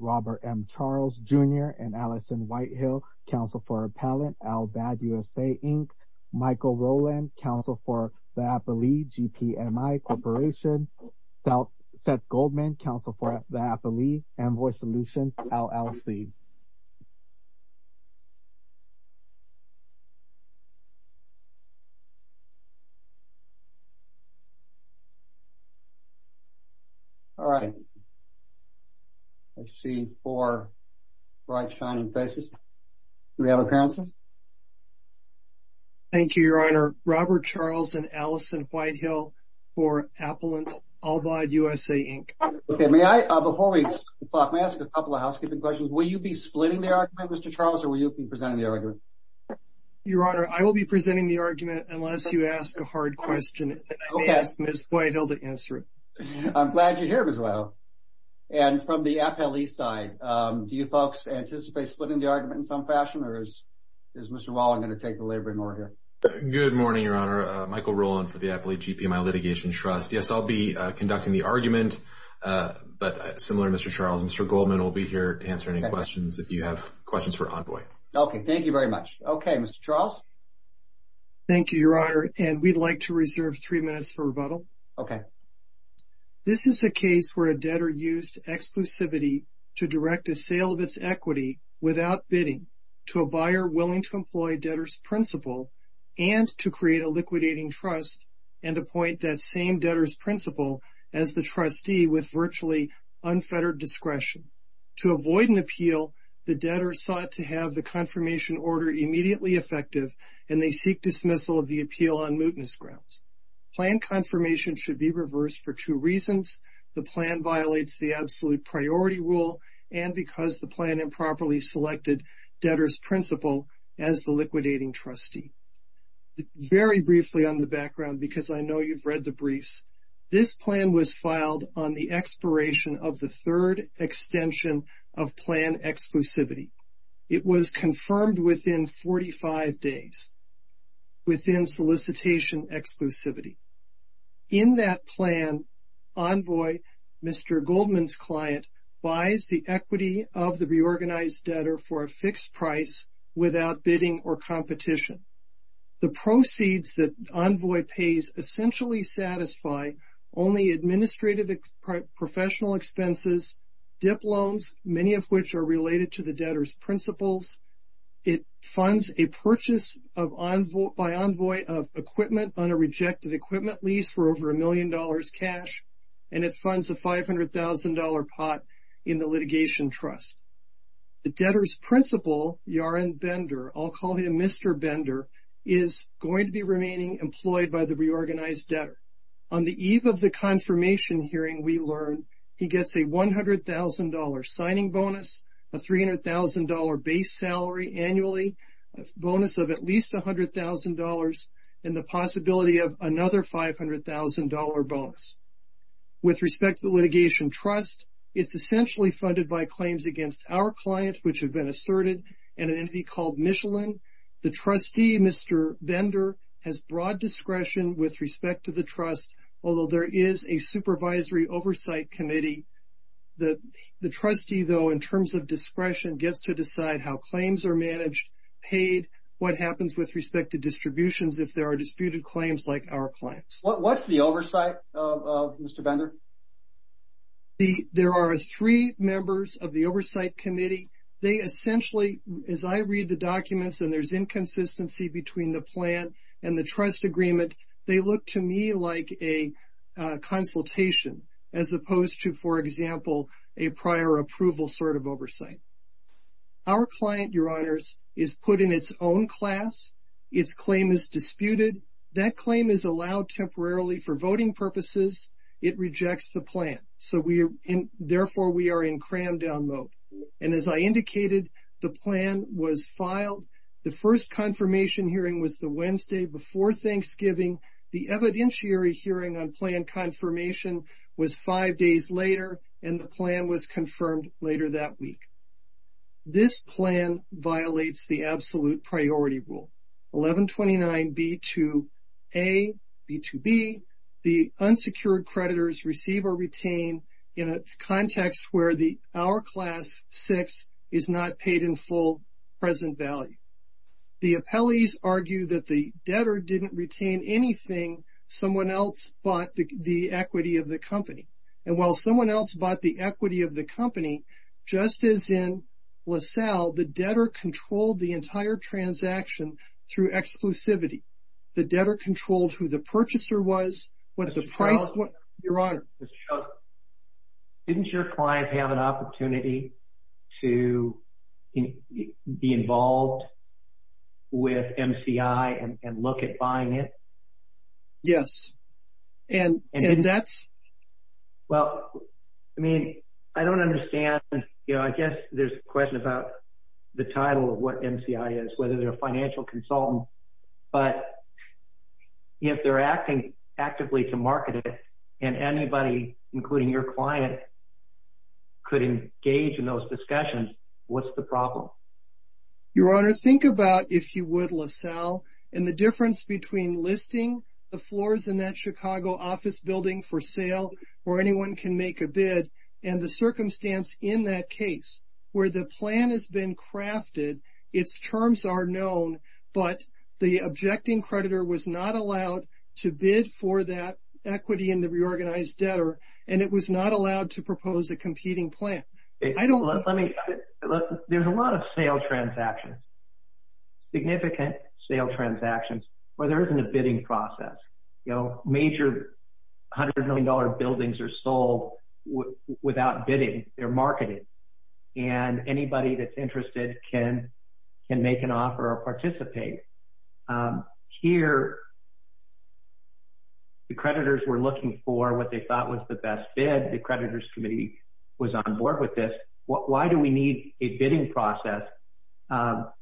Robert M. Charles, Jr. and Allison Whitehill, Counsel for Appellant, Al-Bab USA, Inc. Michael Rowland, Counsel for Diapolee, GPMI, Co., Seth Goldman, Counsel for Diapolee, Envoy Solutions, LLC. All right. I see four bright, shining faces. Do we have a counsel? Thank you, Your Honor. Robert Charles and Allison Whitehill for Appellant, Al-Bab USA, Inc. Okay. Before we talk, may I ask a couple of housekeeping questions? Will you be splitting the argument, Mr. Charles, or will you be presenting the argument? Your Honor, I will be presenting the argument unless you ask a hard question. I may ask Ms. Whitehill to answer it. I'm glad you're here, Ms. Whitehill. And from the appellee side, do you folks anticipate splitting the argument in some fashion, or is Mr. Wallen going to take the labor in order? Good morning, Your Honor. Michael Rowland for Diapolee GPMI Litigation Trust. Yes, I'll be conducting the argument, but similar to Mr. Charles, Mr. Goldman will be here to answer any questions if you have questions for Envoy. Okay. Thank you very much. Okay. Mr. Charles? Thank you, Your Honor. And we'd like to reserve three minutes for rebuttal. Okay. This is a case where a debtor used exclusivity to direct a sale of its equity without bidding to a buyer willing to employ debtor's principle and to create a liquidating trust and appoint that same debtor's principle as the trustee with virtually unfettered discretion. To avoid an appeal, the debtor sought to have the confirmation order immediately effective, and they seek dismissal of the appeal on mootness grounds. Plan confirmation should be reversed for two reasons. The plan violates the absolute priority rule and because the plan improperly selected debtor's principle as the liquidating trustee. Very briefly on the background, because I know you've read the briefs, this plan was filed on the expiration of the third extension of plan exclusivity. It was confirmed within 45 days within solicitation exclusivity. In that plan, Envoy, Mr. Goldman's client, buys the equity of the reorganized debtor for a fixed price without bidding or competition. The proceeds that Envoy pays essentially satisfy only administrative professional expenses, dip loans, many of which are related to the debtor's principles. It funds a purchase by Envoy of equipment on a rejected equipment lease for over $1 million cash, and it funds a $500,000 pot in the litigation trust. The debtor's principle, Yaron Bender, I'll call him Mr. Bender, is going to be remaining employed by the reorganized debtor. On the eve of the confirmation hearing, we learn he gets a $100,000 signing bonus, a $300,000 base salary annually, a bonus of at least $100,000, and the possibility of another $500,000 bonus. With respect to litigation trust, it's essentially funded by claims against our client, which have been asserted, and an entity called Michelin. The trustee, Mr. Bender, has broad discretion with respect to the trust, although there is a supervisory oversight committee. The trustee, though, in terms of discretion, gets to decide how claims are managed, paid, what happens with respect to distributions if there are disputed claims like our client's. What's the oversight, Mr. Bender? There are three members of the oversight committee. They essentially, as I read the documents and there's inconsistency between the plan and the trust agreement, they look to me like a consultation as opposed to, for example, a prior approval sort of oversight. Our client, Your Honors, is put in its own class. Its claim is disputed. That claim is allowed temporarily for voting purposes. It rejects the plan. So, therefore, we are in crammed down mode. And as I indicated, the plan was filed. The first confirmation hearing was the Wednesday before Thanksgiving. The evidentiary hearing on plan confirmation was five days later, and the plan was confirmed later that week. This plan violates the absolute priority rule. 1129B2A, B2B, the unsecured creditors receive or retain in a context where our class six is not paid in full present value. The appellees argue that the debtor didn't retain anything. Someone else bought the equity of the company. And while someone else bought the equity of the company, just as in LaSalle, the debtor controlled the entire transaction through exclusivity. The debtor controlled who the purchaser was, what the price was. Your Honor. Didn't your client have an opportunity to be involved with MCI and look at buying it? Yes. And that's... Well, I mean, I don't understand. You know, I guess there's a question about the title of what MCI is, whether they're a financial consultant. But if they're acting actively to market it, and anybody, including your client, could engage in those discussions, what's the problem? Your Honor, think about, if you would, LaSalle, and the difference between listing the floors in that Chicago office building for sale, where anyone can make a bid, and the circumstance in that case where the plan has been crafted, its terms are known, but the objecting creditor was not allowed to bid for that equity in the reorganized debtor, and it was not allowed to propose a competing plan. I don't... There's a lot of sale transactions, significant sale transactions, where there isn't a bidding process. Major $100 million buildings are sold without bidding. They're marketed. And anybody that's interested can make an offer or participate. Here, the creditors were looking for what they Why do we need a bidding process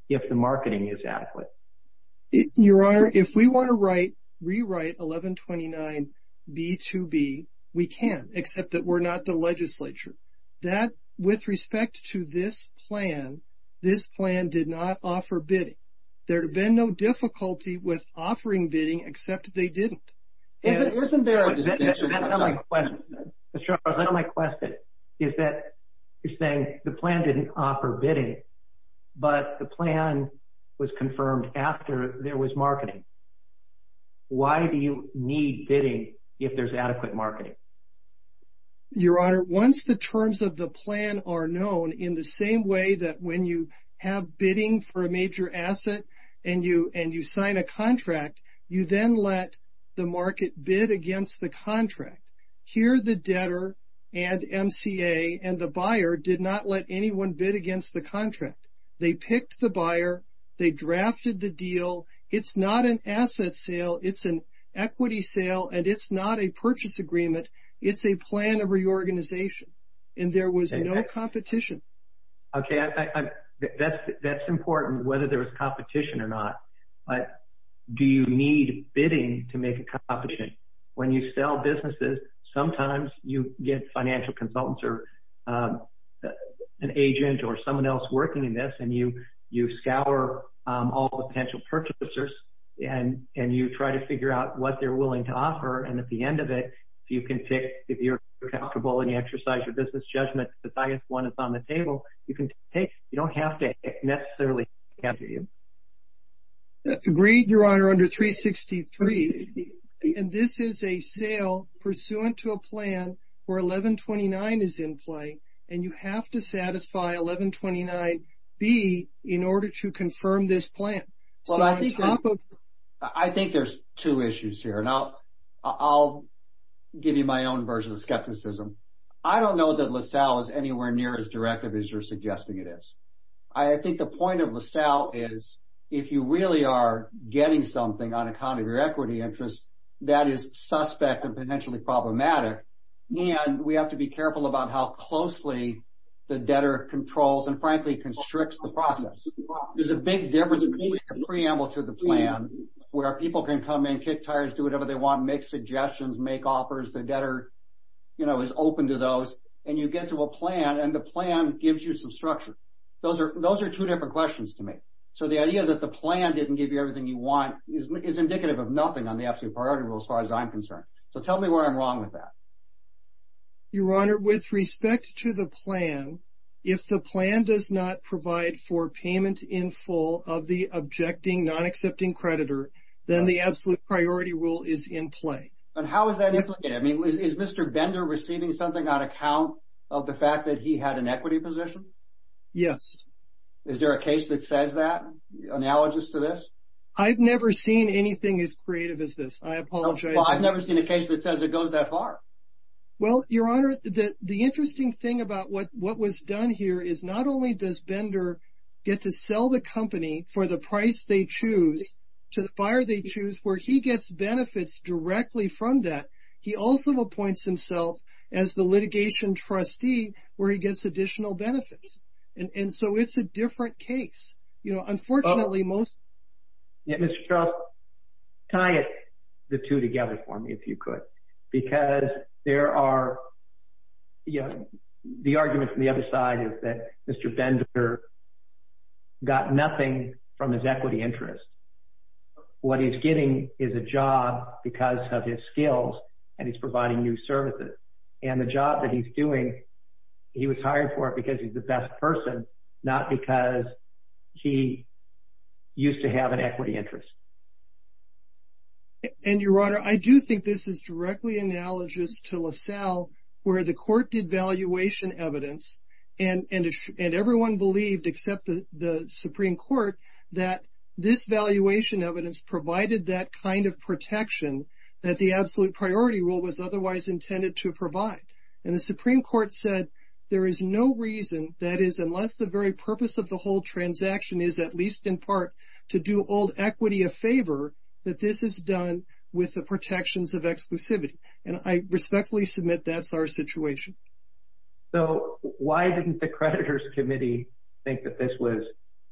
if the marketing is adequate? Your Honor, if we want to rewrite 1129B2B, we can, except that we're not the legislature. That, with respect to this plan, this plan did not offer bidding. There had been no difficulty with offering bidding, except they didn't. Isn't there... Mr. Charles, that's not my question. Mr. Charles, that's not my question, is that you're saying the plan didn't offer bidding, but the plan was confirmed after there was marketing. Why do you need bidding if there's adequate marketing? Your Honor, once the terms of the plan are known, in the same way that when you have bidding for a market bid against the contract, here the debtor and MCA and the buyer did not let anyone bid against the contract. They picked the buyer. They drafted the deal. It's not an asset sale. It's an equity sale, and it's not a purchase agreement. It's a plan of reorganization. And there was no competition. Okay, that's important, whether there was competition or not. But do you need bidding to make a competition? When you sell businesses, sometimes you get financial consultants or an agent or someone else working in this, and you scour all the potential purchasers, and you try to figure out what they're willing to offer. And at the end of it, you can pick, if you're comfortable and you exercise your business judgment, the highest one is on the table, you can take. You don't have to necessarily have to do. Agreed, Your Honor, under 363. And this is a sale pursuant to a plan where 1129 is in play. And you have to satisfy 1129B in order to confirm this plan. Well, I think there's two issues here. Now, I'll give you my own version of skepticism. I don't know that LaSalle is anywhere near as directive as you're suggesting it is. I think the point of LaSalle is, if you really are getting something on account of your equity interests, that is suspect and potentially problematic. And we have to be careful about how closely the debtor controls and frankly, constricts the process. There's a big difference between a preamble to the plan, where people can come in, kick tires, do whatever they want, make suggestions, make offers, the debtor, you know, is open to those, and you get to a plan and the plan gives you some structure. Those are two different questions to me. So the idea that the plan didn't give you everything you want is indicative of nothing on the absolute priority rule as far as I'm concerned. So tell me where I'm wrong with that. Your Honor, with respect to the plan, if the plan does not provide for payment in full of the objecting non accepting creditor, then the absolute priority rule is in play. And how is that? I mean, is Mr. Bender receiving something on account of the fact that he had an equity position? Yes. Is there a case that says that analogous to this? I've never seen anything as creative as this. I apologize. I've never seen a case that says it goes that far. Well, Your Honor, that the interesting thing about what what was done here is not only does Bender get to sell the fund that he also appoints himself as the litigation trustee, where he gets additional benefits. And so it's a different case. You know, unfortunately, most tie the two together for me, if you could, because there are, you know, the argument from the other side is that Mr. Bender got nothing from his equity interest. What he's getting is a job because of his skills, and he's providing new services. And the job that he's doing, he was hired for it because he's the best person, not because he used to have an equity interest. And Your Honor, I do think this is directly analogous to LaSalle, where the court did valuation evidence, and everyone believed except the Supreme Court, that this valuation evidence provided that kind of protection that the absolute priority rule was otherwise intended to provide. And the Supreme Court said, there is no reason that is unless the very purpose of the whole transaction is at least in part to do old equity a favor, that this is done with the protections of exclusivity. And I respectfully submit that's our situation. So why didn't the creditors committee think that this was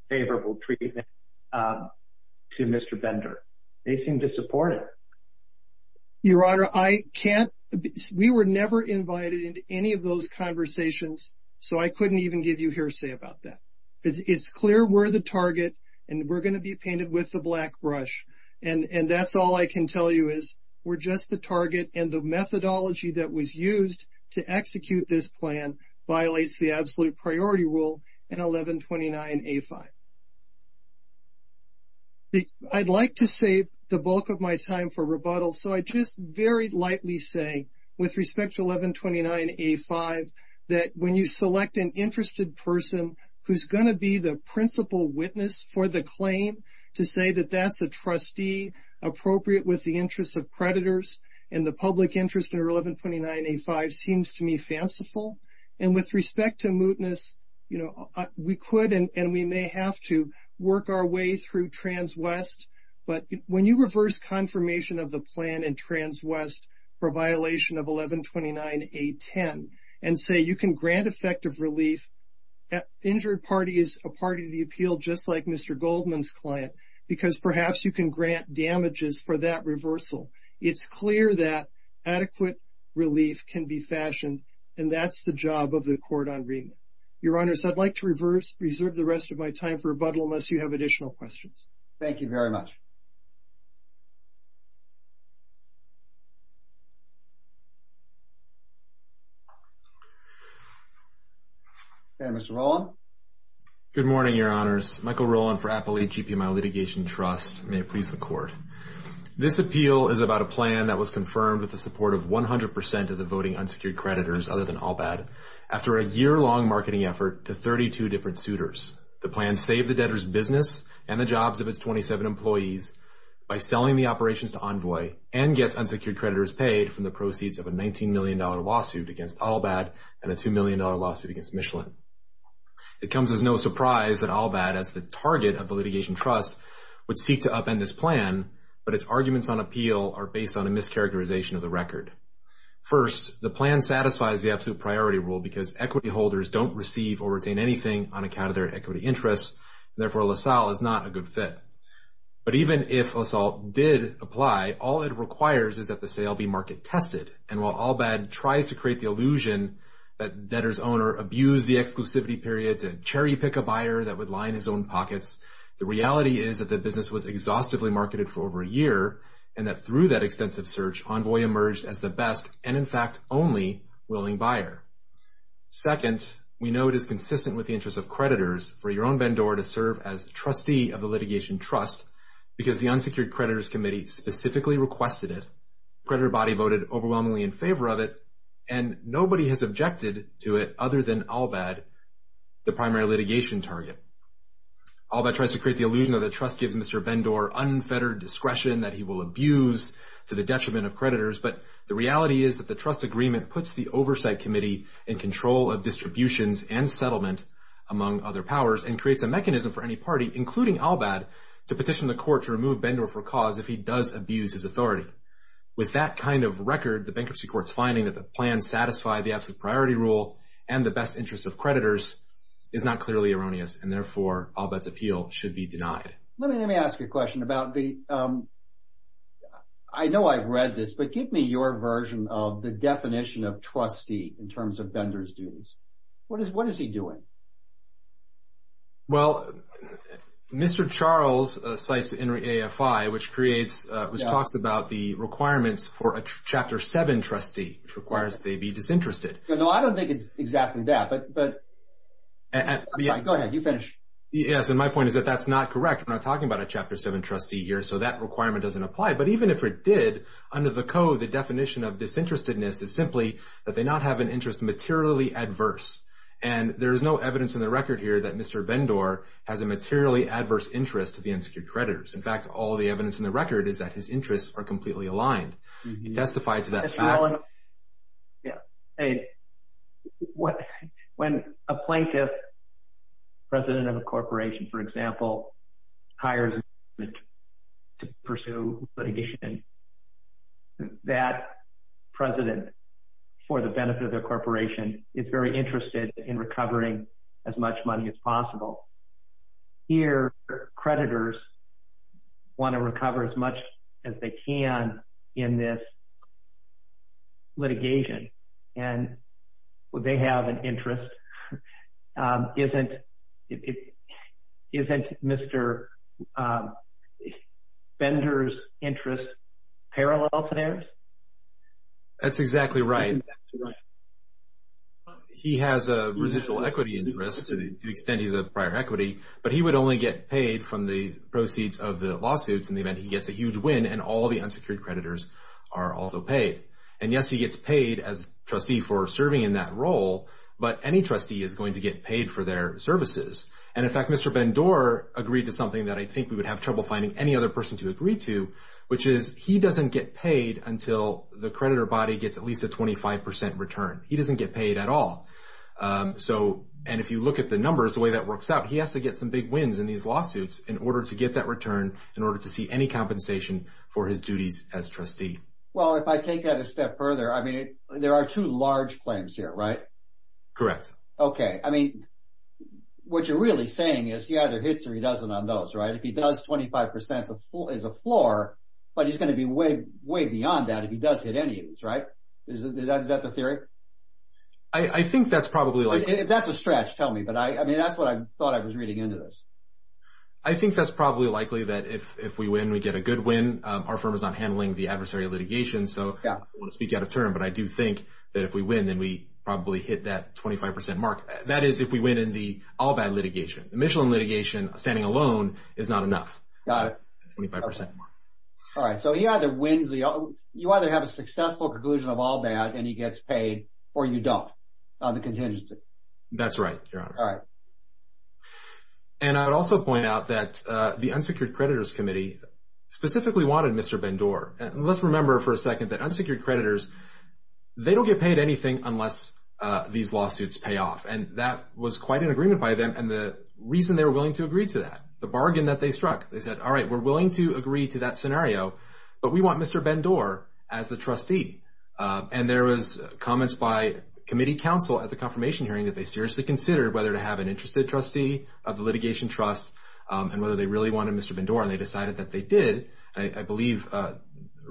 favorable treatment to Mr. Bender? They seem to support it. Your Honor, I can't, we were never invited into any of those conversations. So I couldn't even give you hearsay about that. It's clear we're the target, and we're going to be painted with the black brush. And that's all I can tell you is, we're just the target and the methodology that was used to execute this plan violates the absolute priority rule in 1129A5. I'd like to save the bulk of my time for rebuttal. So I just very lightly say, with respect to 1129A5, that when you select an interested person, who's going to be the principal witness for the claim, to say that that's a trustee appropriate with the interests of creditors, and the public interest under 1129A5 seems to me fanciful. And with respect to mootness, you know, we could and we may have to work our way through Trans West. But when you reverse confirmation of the plan and Trans West for violation of 1129A10, and say you can grant effective relief, that injured party is a party to the appeal, just like Mr. Goldman's client, because perhaps you can grant damages for that reversal. It's clear that adequate relief can be fashioned. And that's the job of the court on remit. Your Honor, so I'd like to reserve the rest of my time for rebuttal unless you have additional questions. Thank you very much. Okay, Mr. Rowland. Good morning, Your Honors. Michael Rowland for Appalachee Pimile Litigation Trust. May it please the court. This appeal is about a plan that was confirmed with the support of 100% of the voting unsecured creditors, other than ALBAD, after a year long marketing effort to 32 different suitors. The plan saved the debtor's business and the jobs of its 27 employees by selling the operations to Envoy and gets unsecured creditors paid from the proceeds of a $19 million lawsuit against ALBAD and a $2 million lawsuit against Michelin. It comes as no surprise that ALBAD, as the target of the litigation trust, would seek to upend this plan, but its arguments on appeal are based on a mischaracterization of the record. First, the plan satisfies the absolute priority rule because equity holders don't receive or retain anything on account of their equity interests, and therefore LaSalle is not a good fit. But even if LaSalle did apply, all it requires is that the sale be market tested. And while ALBAD tries to create the illusion that the debtor's owner abused the exclusivity period to cherry pick a buyer that would line his own pockets, the reality is that the business was exhaustively marketed for over a year and that through that extensive search, Envoy emerged as the best and, in fact, only willing buyer. Second, we know it is consistent with the interests of creditors for your own Bendor to serve as trustee of the litigation trust because the unsecured creditors committee specifically requested it, creditor body voted overwhelmingly in favor of it, and nobody has objected to it other than ALBAD, the primary litigation target. ALBAD tries to create the illusion that the trust gives Mr. Bendor unfettered discretion that he will abuse to the detriment of creditors, but the reality is that the trust agreement puts the oversight committee in control of among other powers and creates a mechanism for any party, including ALBAD, to petition the court to remove Bendor for cause if he does abuse his authority. With that kind of record, the bankruptcy court's finding that the plan satisfied the absolute priority rule and the best interests of creditors is not clearly erroneous, and therefore, ALBAD's appeal should be denied. Let me ask you a question about the, I know I've read this, but give me your version of the definition of trustee in terms of disinterest. Well, Mr. Charles cites Henry AFI, which creates, which talks about the requirements for a Chapter 7 trustee, which requires that they be disinterested. No, I don't think it's exactly that, but I'm sorry, go ahead, you finish. Yes, and my point is that that's not correct. We're not talking about a Chapter 7 trustee here, so that requirement doesn't apply, but even if it did, under the code, the definition of disinterestedness is simply that they not have an interest materially adverse, and there is no evidence in the record here that Mr. Bendor has a materially adverse interest to the unsecured creditors. In fact, all the evidence in the record is that his interests are that that president, for the benefit of the corporation, is very interested in recovering as much money as possible. Here, creditors want to recover as That's exactly right. He has a residual equity interest to the extent he's a prior equity, but he would only get paid from the proceeds of the lawsuits in the event he gets a huge win, and all the unsecured creditors are also paid. And yes, he gets paid as trustee for serving in that role, but any trustee is going to get paid for their services. And in fact, Mr. Bendor agreed to something that I think we would have trouble finding any other person to agree to, which is he doesn't get paid until the creditor body gets at least a 25% return. He doesn't get paid at all. And if you look at the numbers, the way that works out, he has to get some big wins in these lawsuits in order to get that return in order to see any compensation for his duties as trustee. Well, if I take that a step further, I mean, there are two large claims here, right? Correct. Okay. I mean, what you're really saying is he either hits or he doesn't on those, right? If he does, 25% is a floor, but he's going to be way beyond that if he does hit any of these, right? Is that the theory? I think that's probably likely. That's a stretch. Tell me. But I mean, that's what I thought I was reading into this. I think that's probably likely that if we win, we get a good win. Our firm is not handling the adversary litigation, so I don't want to speak out of turn, but I do think that if we win, then we probably hit that 25% mark. That is, if we win in the All Bad litigation. The Michelin litigation, standing alone, is not enough. Got it. That's a 25% mark. All right. So you either have a successful conclusion of All Bad, and he gets paid, or you don't on the contingency. That's right, Your Honor. All right. And I would also point out that the Unsecured Creditors Committee specifically wanted Mr. Bendor. And let's remember for a second that Unsecured Creditors, they don't get paid anything unless these lawsuits pay off, and that was quite an agreement by them. And the reason they were willing to agree to that, the bargain that they struck, they said, all right, we're willing to agree to that scenario, but we want Mr. Bendor as the trustee. And there was comments by committee counsel at the confirmation hearing that they seriously considered whether to have an interested trustee of the litigation trust and whether they really wanted Mr. Bendor, and they decided that they did. I believe the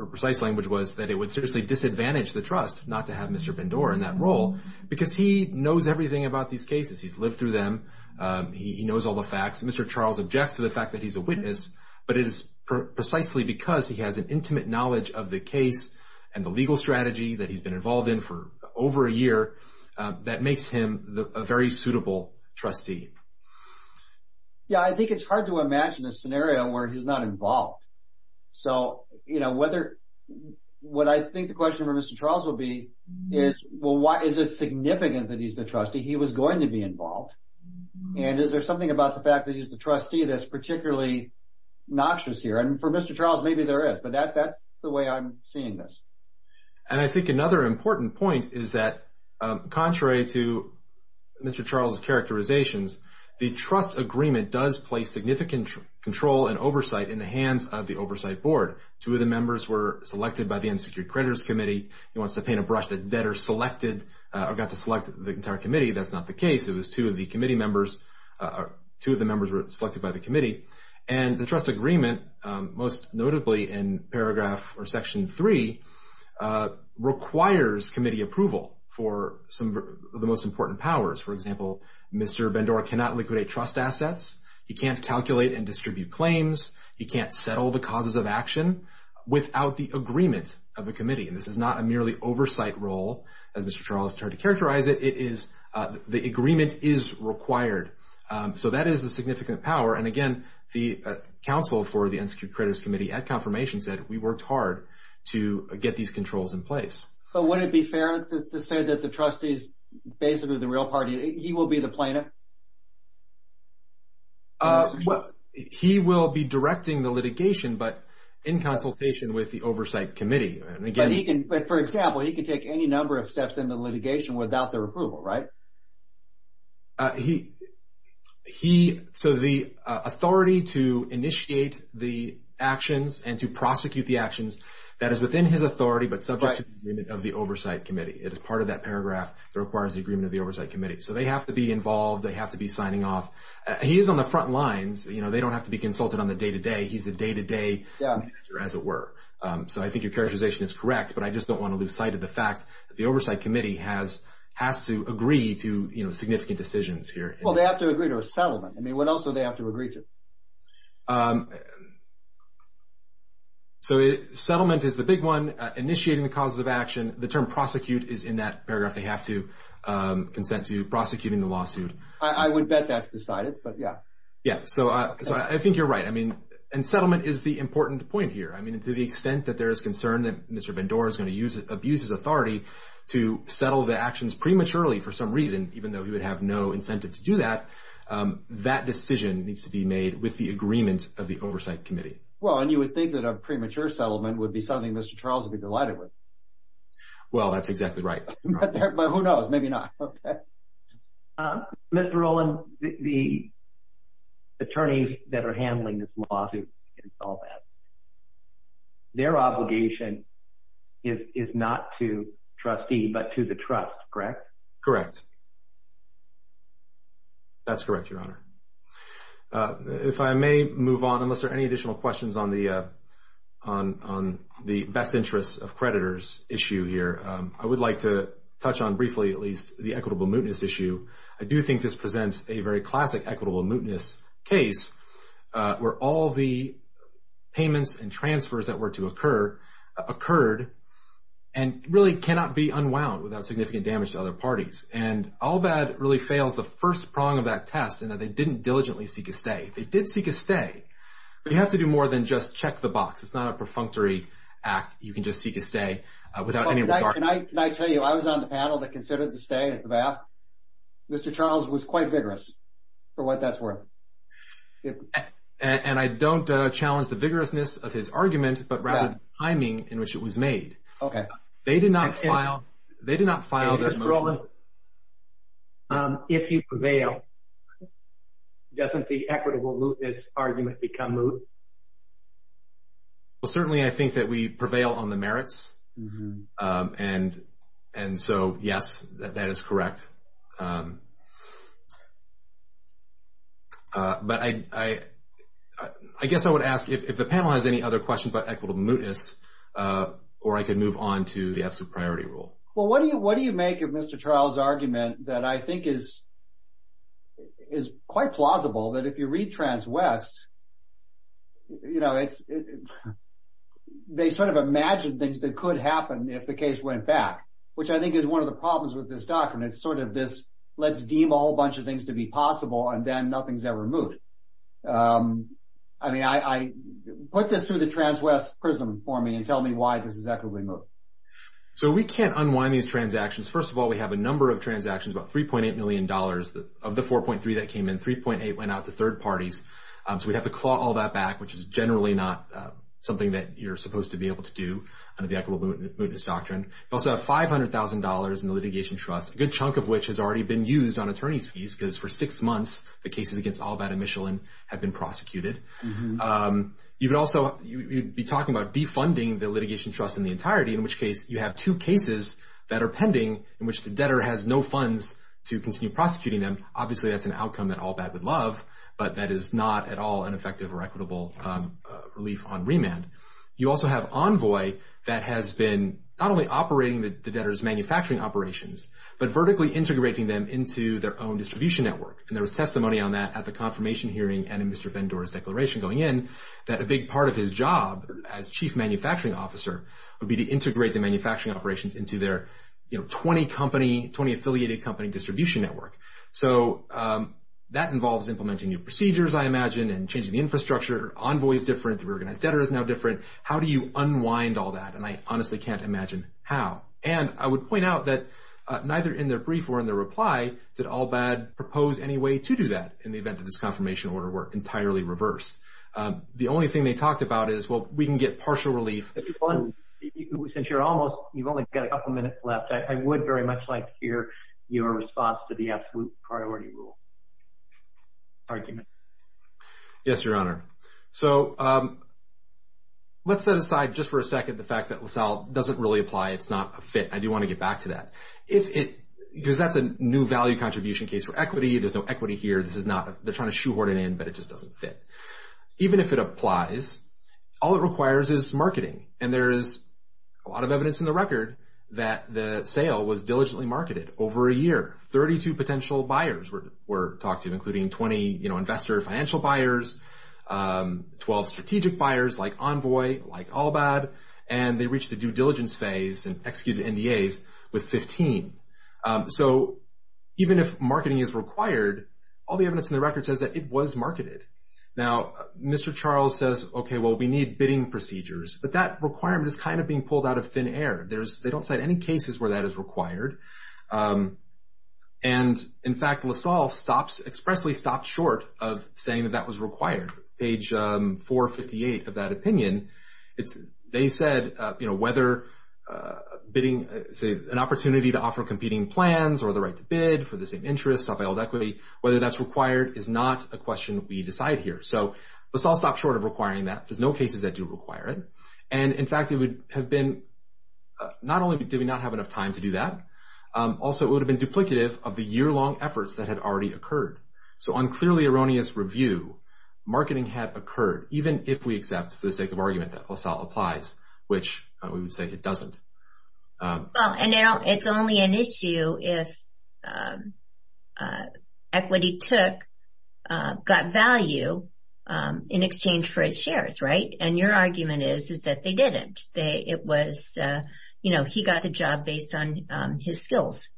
precise language was that it would seriously disadvantage the trust not to have Mr. Bendor in that role because he knows everything about these cases. He's lived through them. He knows all the facts. Mr. Charles objects to the fact that he's a witness, but it is precisely because he has an intimate knowledge of the case and the legal strategy that he's been involved in for over a year that makes him a very suitable trustee. Yeah, I think it's hard to imagine a scenario where he's not involved. So, you know, what I think the question for Mr. Charles will be is, well, why is it significant that he's the trustee? He was going to be involved. And is there something about the fact that he's the trustee that's particularly noxious here? And for Mr. Charles, maybe there is, but that's the way I'm seeing this. And I think another important point is that contrary to Mr. Charles' characterizations, the trust agreement does place significant control and oversight in the hands of the Oversight Board. Two of the members were selected by the Unsecured Creditors Committee. He wants to paint a brush that debtors selected or got to select the entire committee. That's not the case. It was two of the committee members or two of the members were selected by the committee. And the trust agreement, most notably in paragraph or Section 3, requires committee approval for some of the most important powers. For example, Mr. Bendora cannot liquidate trust assets. He can't calculate and distribute claims. He can't settle the causes of action without the agreement of the committee. And this is not a merely oversight role, as Mr. Charles tried to characterize it. It is the agreement is required. So that is a significant power. And, again, the counsel for the Unsecured Creditors Committee at confirmation said we worked hard to get these controls in place. So would it be fair to say that the trustee is basically the real party? He will be the plaintiff? He will be directing the litigation, but in consultation with the Oversight Committee. But, for example, he can take any number of steps in the litigation without their approval, right? So the authority to initiate the actions and to prosecute the actions, that is within his authority, but subject to the agreement of the Oversight Committee. It is part of that paragraph that requires the agreement of the Oversight Committee. So they have to be involved. They have to be signing off. He is on the front lines. They don't have to be consulted on the day-to-day. He's the day-to-day manager, as it were. So I think your characterization is correct, but I just don't want to lose sight of the fact that the Oversight Committee has to agree to significant decisions here. Well, they have to agree to a settlement. I mean, what else do they have to agree to? So settlement is the big one, initiating the causes of action. The term prosecute is in that paragraph. They have to consent to prosecuting the lawsuit. I would bet that's decided, but, yeah. Yeah, so I think you're right. I mean, and settlement is the important point here. I mean, to the extent that there is concern that Mr. Bendora is going to abuse his authority to settle the actions prematurely for some reason, even though he would have no incentive to do that, that decision needs to be made with the agreement of the Oversight Committee. Well, and you would think that a premature settlement would be something Mr. Charles would be delighted with. Well, that's exactly right. But who knows? Maybe not. Okay. Mr. Rowland, the attorneys that are handling this lawsuit can solve that. Their obligation is not to trustee but to the trust, correct? Correct. That's correct, Your Honor. If I may move on, unless there are any additional questions on the best interests of creditors issue here, I would like to touch on briefly at least the equitable mootness issue. I do think this presents a very classic equitable mootness case where all the payments and transfers that were to occur occurred and really cannot be unwound without significant damage to other parties. And All Bad really fails the first prong of that test in that they didn't diligently seek a stay. They did seek a stay, but you have to do more than just check the box. It's not a perfunctory act. You can just seek a stay without any regard. Can I tell you, I was on the panel that considered the stay at the VAF. Mr. Charles was quite vigorous for what that's worth. And I don't challenge the vigorousness of his argument but rather the timing in which it was made. Okay. They did not file that motion. Mr. Rowland, if you prevail, doesn't the equitable mootness argument become moot? Well, certainly I think that we prevail on the merits. And so, yes, that is correct. But I guess I would ask if the panel has any other questions about equitable mootness, or I could move on to the absolute priority rule. Well, what do you make of Mr. Charles' argument that I think is quite plausible, that if you read Trans-West, you know, they sort of imagined things that could happen if the case went back, which I think is one of the problems with this document. It's sort of this let's deem a whole bunch of things to be possible and then nothing's ever mooted. I mean, put this through the Trans-West prism for me and tell me why this is equitable moot. So we can't unwind these transactions. First of all, we have a number of transactions, about $3.8 million of the 4.3 that came in. 3.8 went out to third parties. So we'd have to claw all that back, which is generally not something that you're supposed to be able to do under the equitable mootness doctrine. You also have $500,000 in the litigation trust, a good chunk of which has already been used on attorney's fees because for six months the cases against Allbad and Michelin have been prosecuted. You would also be talking about defunding the litigation trust in the entirety, in which case you have two cases that are pending in which the debtor has no funds to continue prosecuting them. Obviously, that's an outcome that Allbad would love, but that is not at all an effective or equitable relief on remand. You also have Envoy that has been not only operating the debtor's manufacturing operations, but vertically integrating them into their own distribution network. And there was testimony on that at the confirmation hearing and in Mr. Vendor's declaration going in that a big part of his job as chief manufacturing officer would be to integrate the manufacturing operations into their 20-affiliated company distribution network. So that involves implementing new procedures, I imagine, and changing the infrastructure. Envoy is different, the reorganized debtor is now different. How do you unwind all that? And I honestly can't imagine how. And I would point out that neither in their brief or in their reply did Allbad propose any way to do that in the event that this confirmation order were entirely reversed. The only thing they talked about is, well, we can get partial relief. Since you're almost, you've only got a couple minutes left, I would very much like to hear your response to the absolute priority rule. Yes, Your Honor. So let's set aside just for a second the fact that LaSalle doesn't really apply. It's not a fit. I do want to get back to that. Because that's a new value contribution case for equity. There's no equity here. They're trying to shoehorn it in, but it just doesn't fit. Even if it applies, all it requires is marketing. And there is a lot of evidence in the record that the sale was diligently marketed over a year. Thirty-two potential buyers were talked to, including 20 investor financial buyers, 12 strategic buyers like Envoy, like Allbad. And they reached the due diligence phase and executed NDAs with 15. So even if marketing is required, all the evidence in the record says that it was marketed. Now, Mr. Charles says, okay, well, we need bidding procedures. But that requirement is kind of being pulled out of thin air. They don't cite any cases where that is required. And, in fact, LaSalle expressly stopped short of saying that that was required. Page 458 of that opinion, they said, you know, whether bidding, say, an opportunity to offer competing plans or the right to bid for the same interest, self-held equity, whether that's required is not a question we decide here. So LaSalle stopped short of requiring that. There's no cases that do require it. And, in fact, it would have been not only did we not have enough time to do that, also it would have been duplicative of the year-long efforts that had already occurred. So on clearly erroneous review, marketing had occurred, even if we accept for the sake of argument that LaSalle applies, which we would say it doesn't. Well, and it's only an issue if equity took, got value in exchange for its shares, right? And your argument is that they didn't. It was, you know, he got the job based on his skills.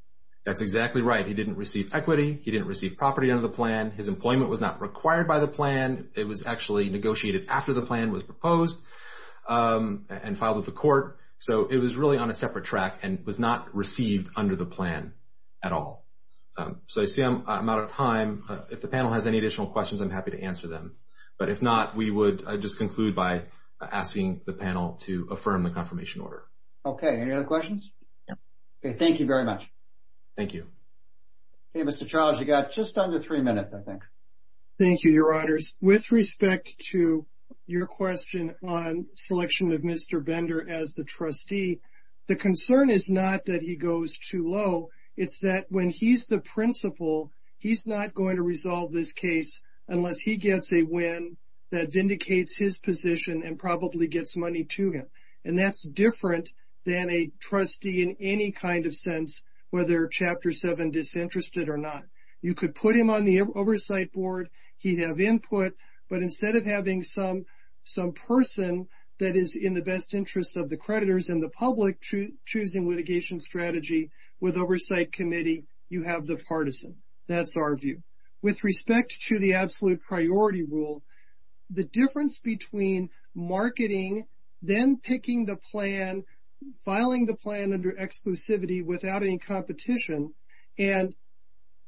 That's exactly right. He didn't receive equity. He didn't receive property under the plan. His employment was not required by the plan. It was actually negotiated after the plan was proposed and filed with the court. So it was really on a separate track and was not received under the plan at all. So I see I'm out of time. If the panel has any additional questions, I'm happy to answer them. But if not, we would just conclude by asking the panel to affirm the confirmation order. Okay, any other questions? Okay, thank you very much. Thank you. Okay, Mr. Charles, you've got just under three minutes, I think. Thank you, Your Honors. With respect to your question on selection of Mr. Bender as the trustee, the concern is not that he goes too low. It's that when he's the principal, he's not going to resolve this case unless he gets a win that vindicates his position and probably gets money to him. And that's different than a trustee in any kind of sense, whether Chapter 7 disinterested or not. You could put him on the oversight board. He'd have input. But instead of having some person that is in the best interest of the creditors and the public choosing litigation strategy with oversight committee, you have the partisan. That's our view. With respect to the absolute priority rule, the difference between marketing, then picking the plan, filing the plan under exclusivity without any competition, and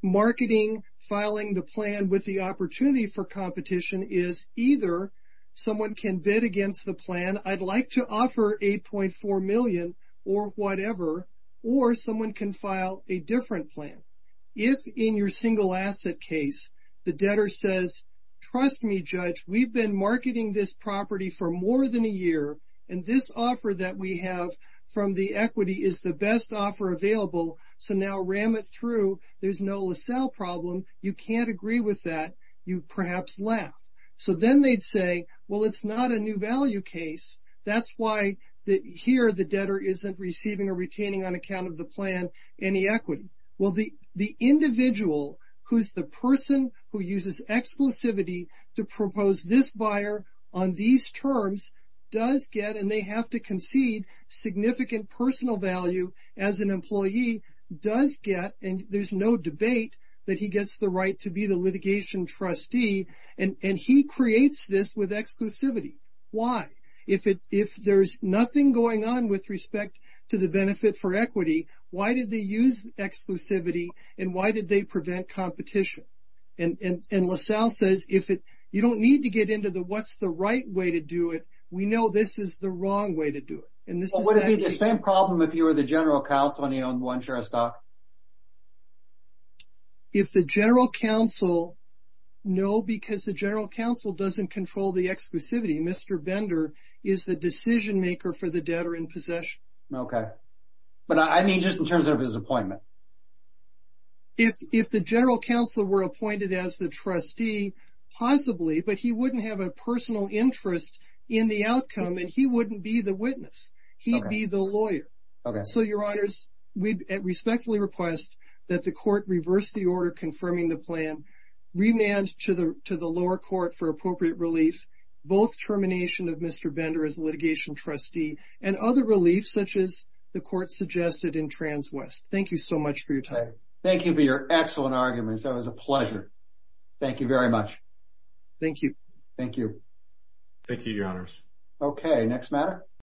marketing, filing the plan with the opportunity for competition, is either someone can bid against the plan. I'd like to offer $8.4 million or whatever. Or someone can file a different plan. If, in your single asset case, the debtor says, trust me, Judge, we've been marketing this property for more than a year, and this offer that we have from the equity is the best offer available, so now ram it through. There's no LaSalle problem. You can't agree with that. You'd perhaps laugh. So then they'd say, well, it's not a new value case. That's why here the debtor isn't receiving or retaining on account of the plan any equity. Well, the individual who's the person who uses exclusivity to propose this buyer on these terms does get, and they have to concede, significant personal value as an employee does get, and there's no debate that he gets the right to be the litigation trustee and he creates this with exclusivity. Why? If there's nothing going on with respect to the benefit for equity, why did they use exclusivity, and why did they prevent competition? And LaSalle says, you don't need to get into the what's the right way to do it. We know this is the wrong way to do it. And this is actually the same problem if you were the general counsel and you owned one share of stock. If the general counsel, no, because the general counsel doesn't control the exclusivity. Mr. Bender is the decision maker for the debtor in possession. Okay. But I mean just in terms of his appointment. If the general counsel were appointed as the trustee, possibly, but he wouldn't have a personal interest in the outcome and he wouldn't be the witness. He'd be the lawyer. Okay. So, your honors, we respectfully request that the court reverse the order confirming the plan, remand to the lower court for appropriate relief, both termination of Mr. Bender as litigation trustee, and other relief such as the court suggested in Trans West. Thank you so much for your time. Thank you for your excellent arguments. That was a pleasure. Thank you very much. Thank you. Thank you. Thank you, your honors. Okay. Next matter.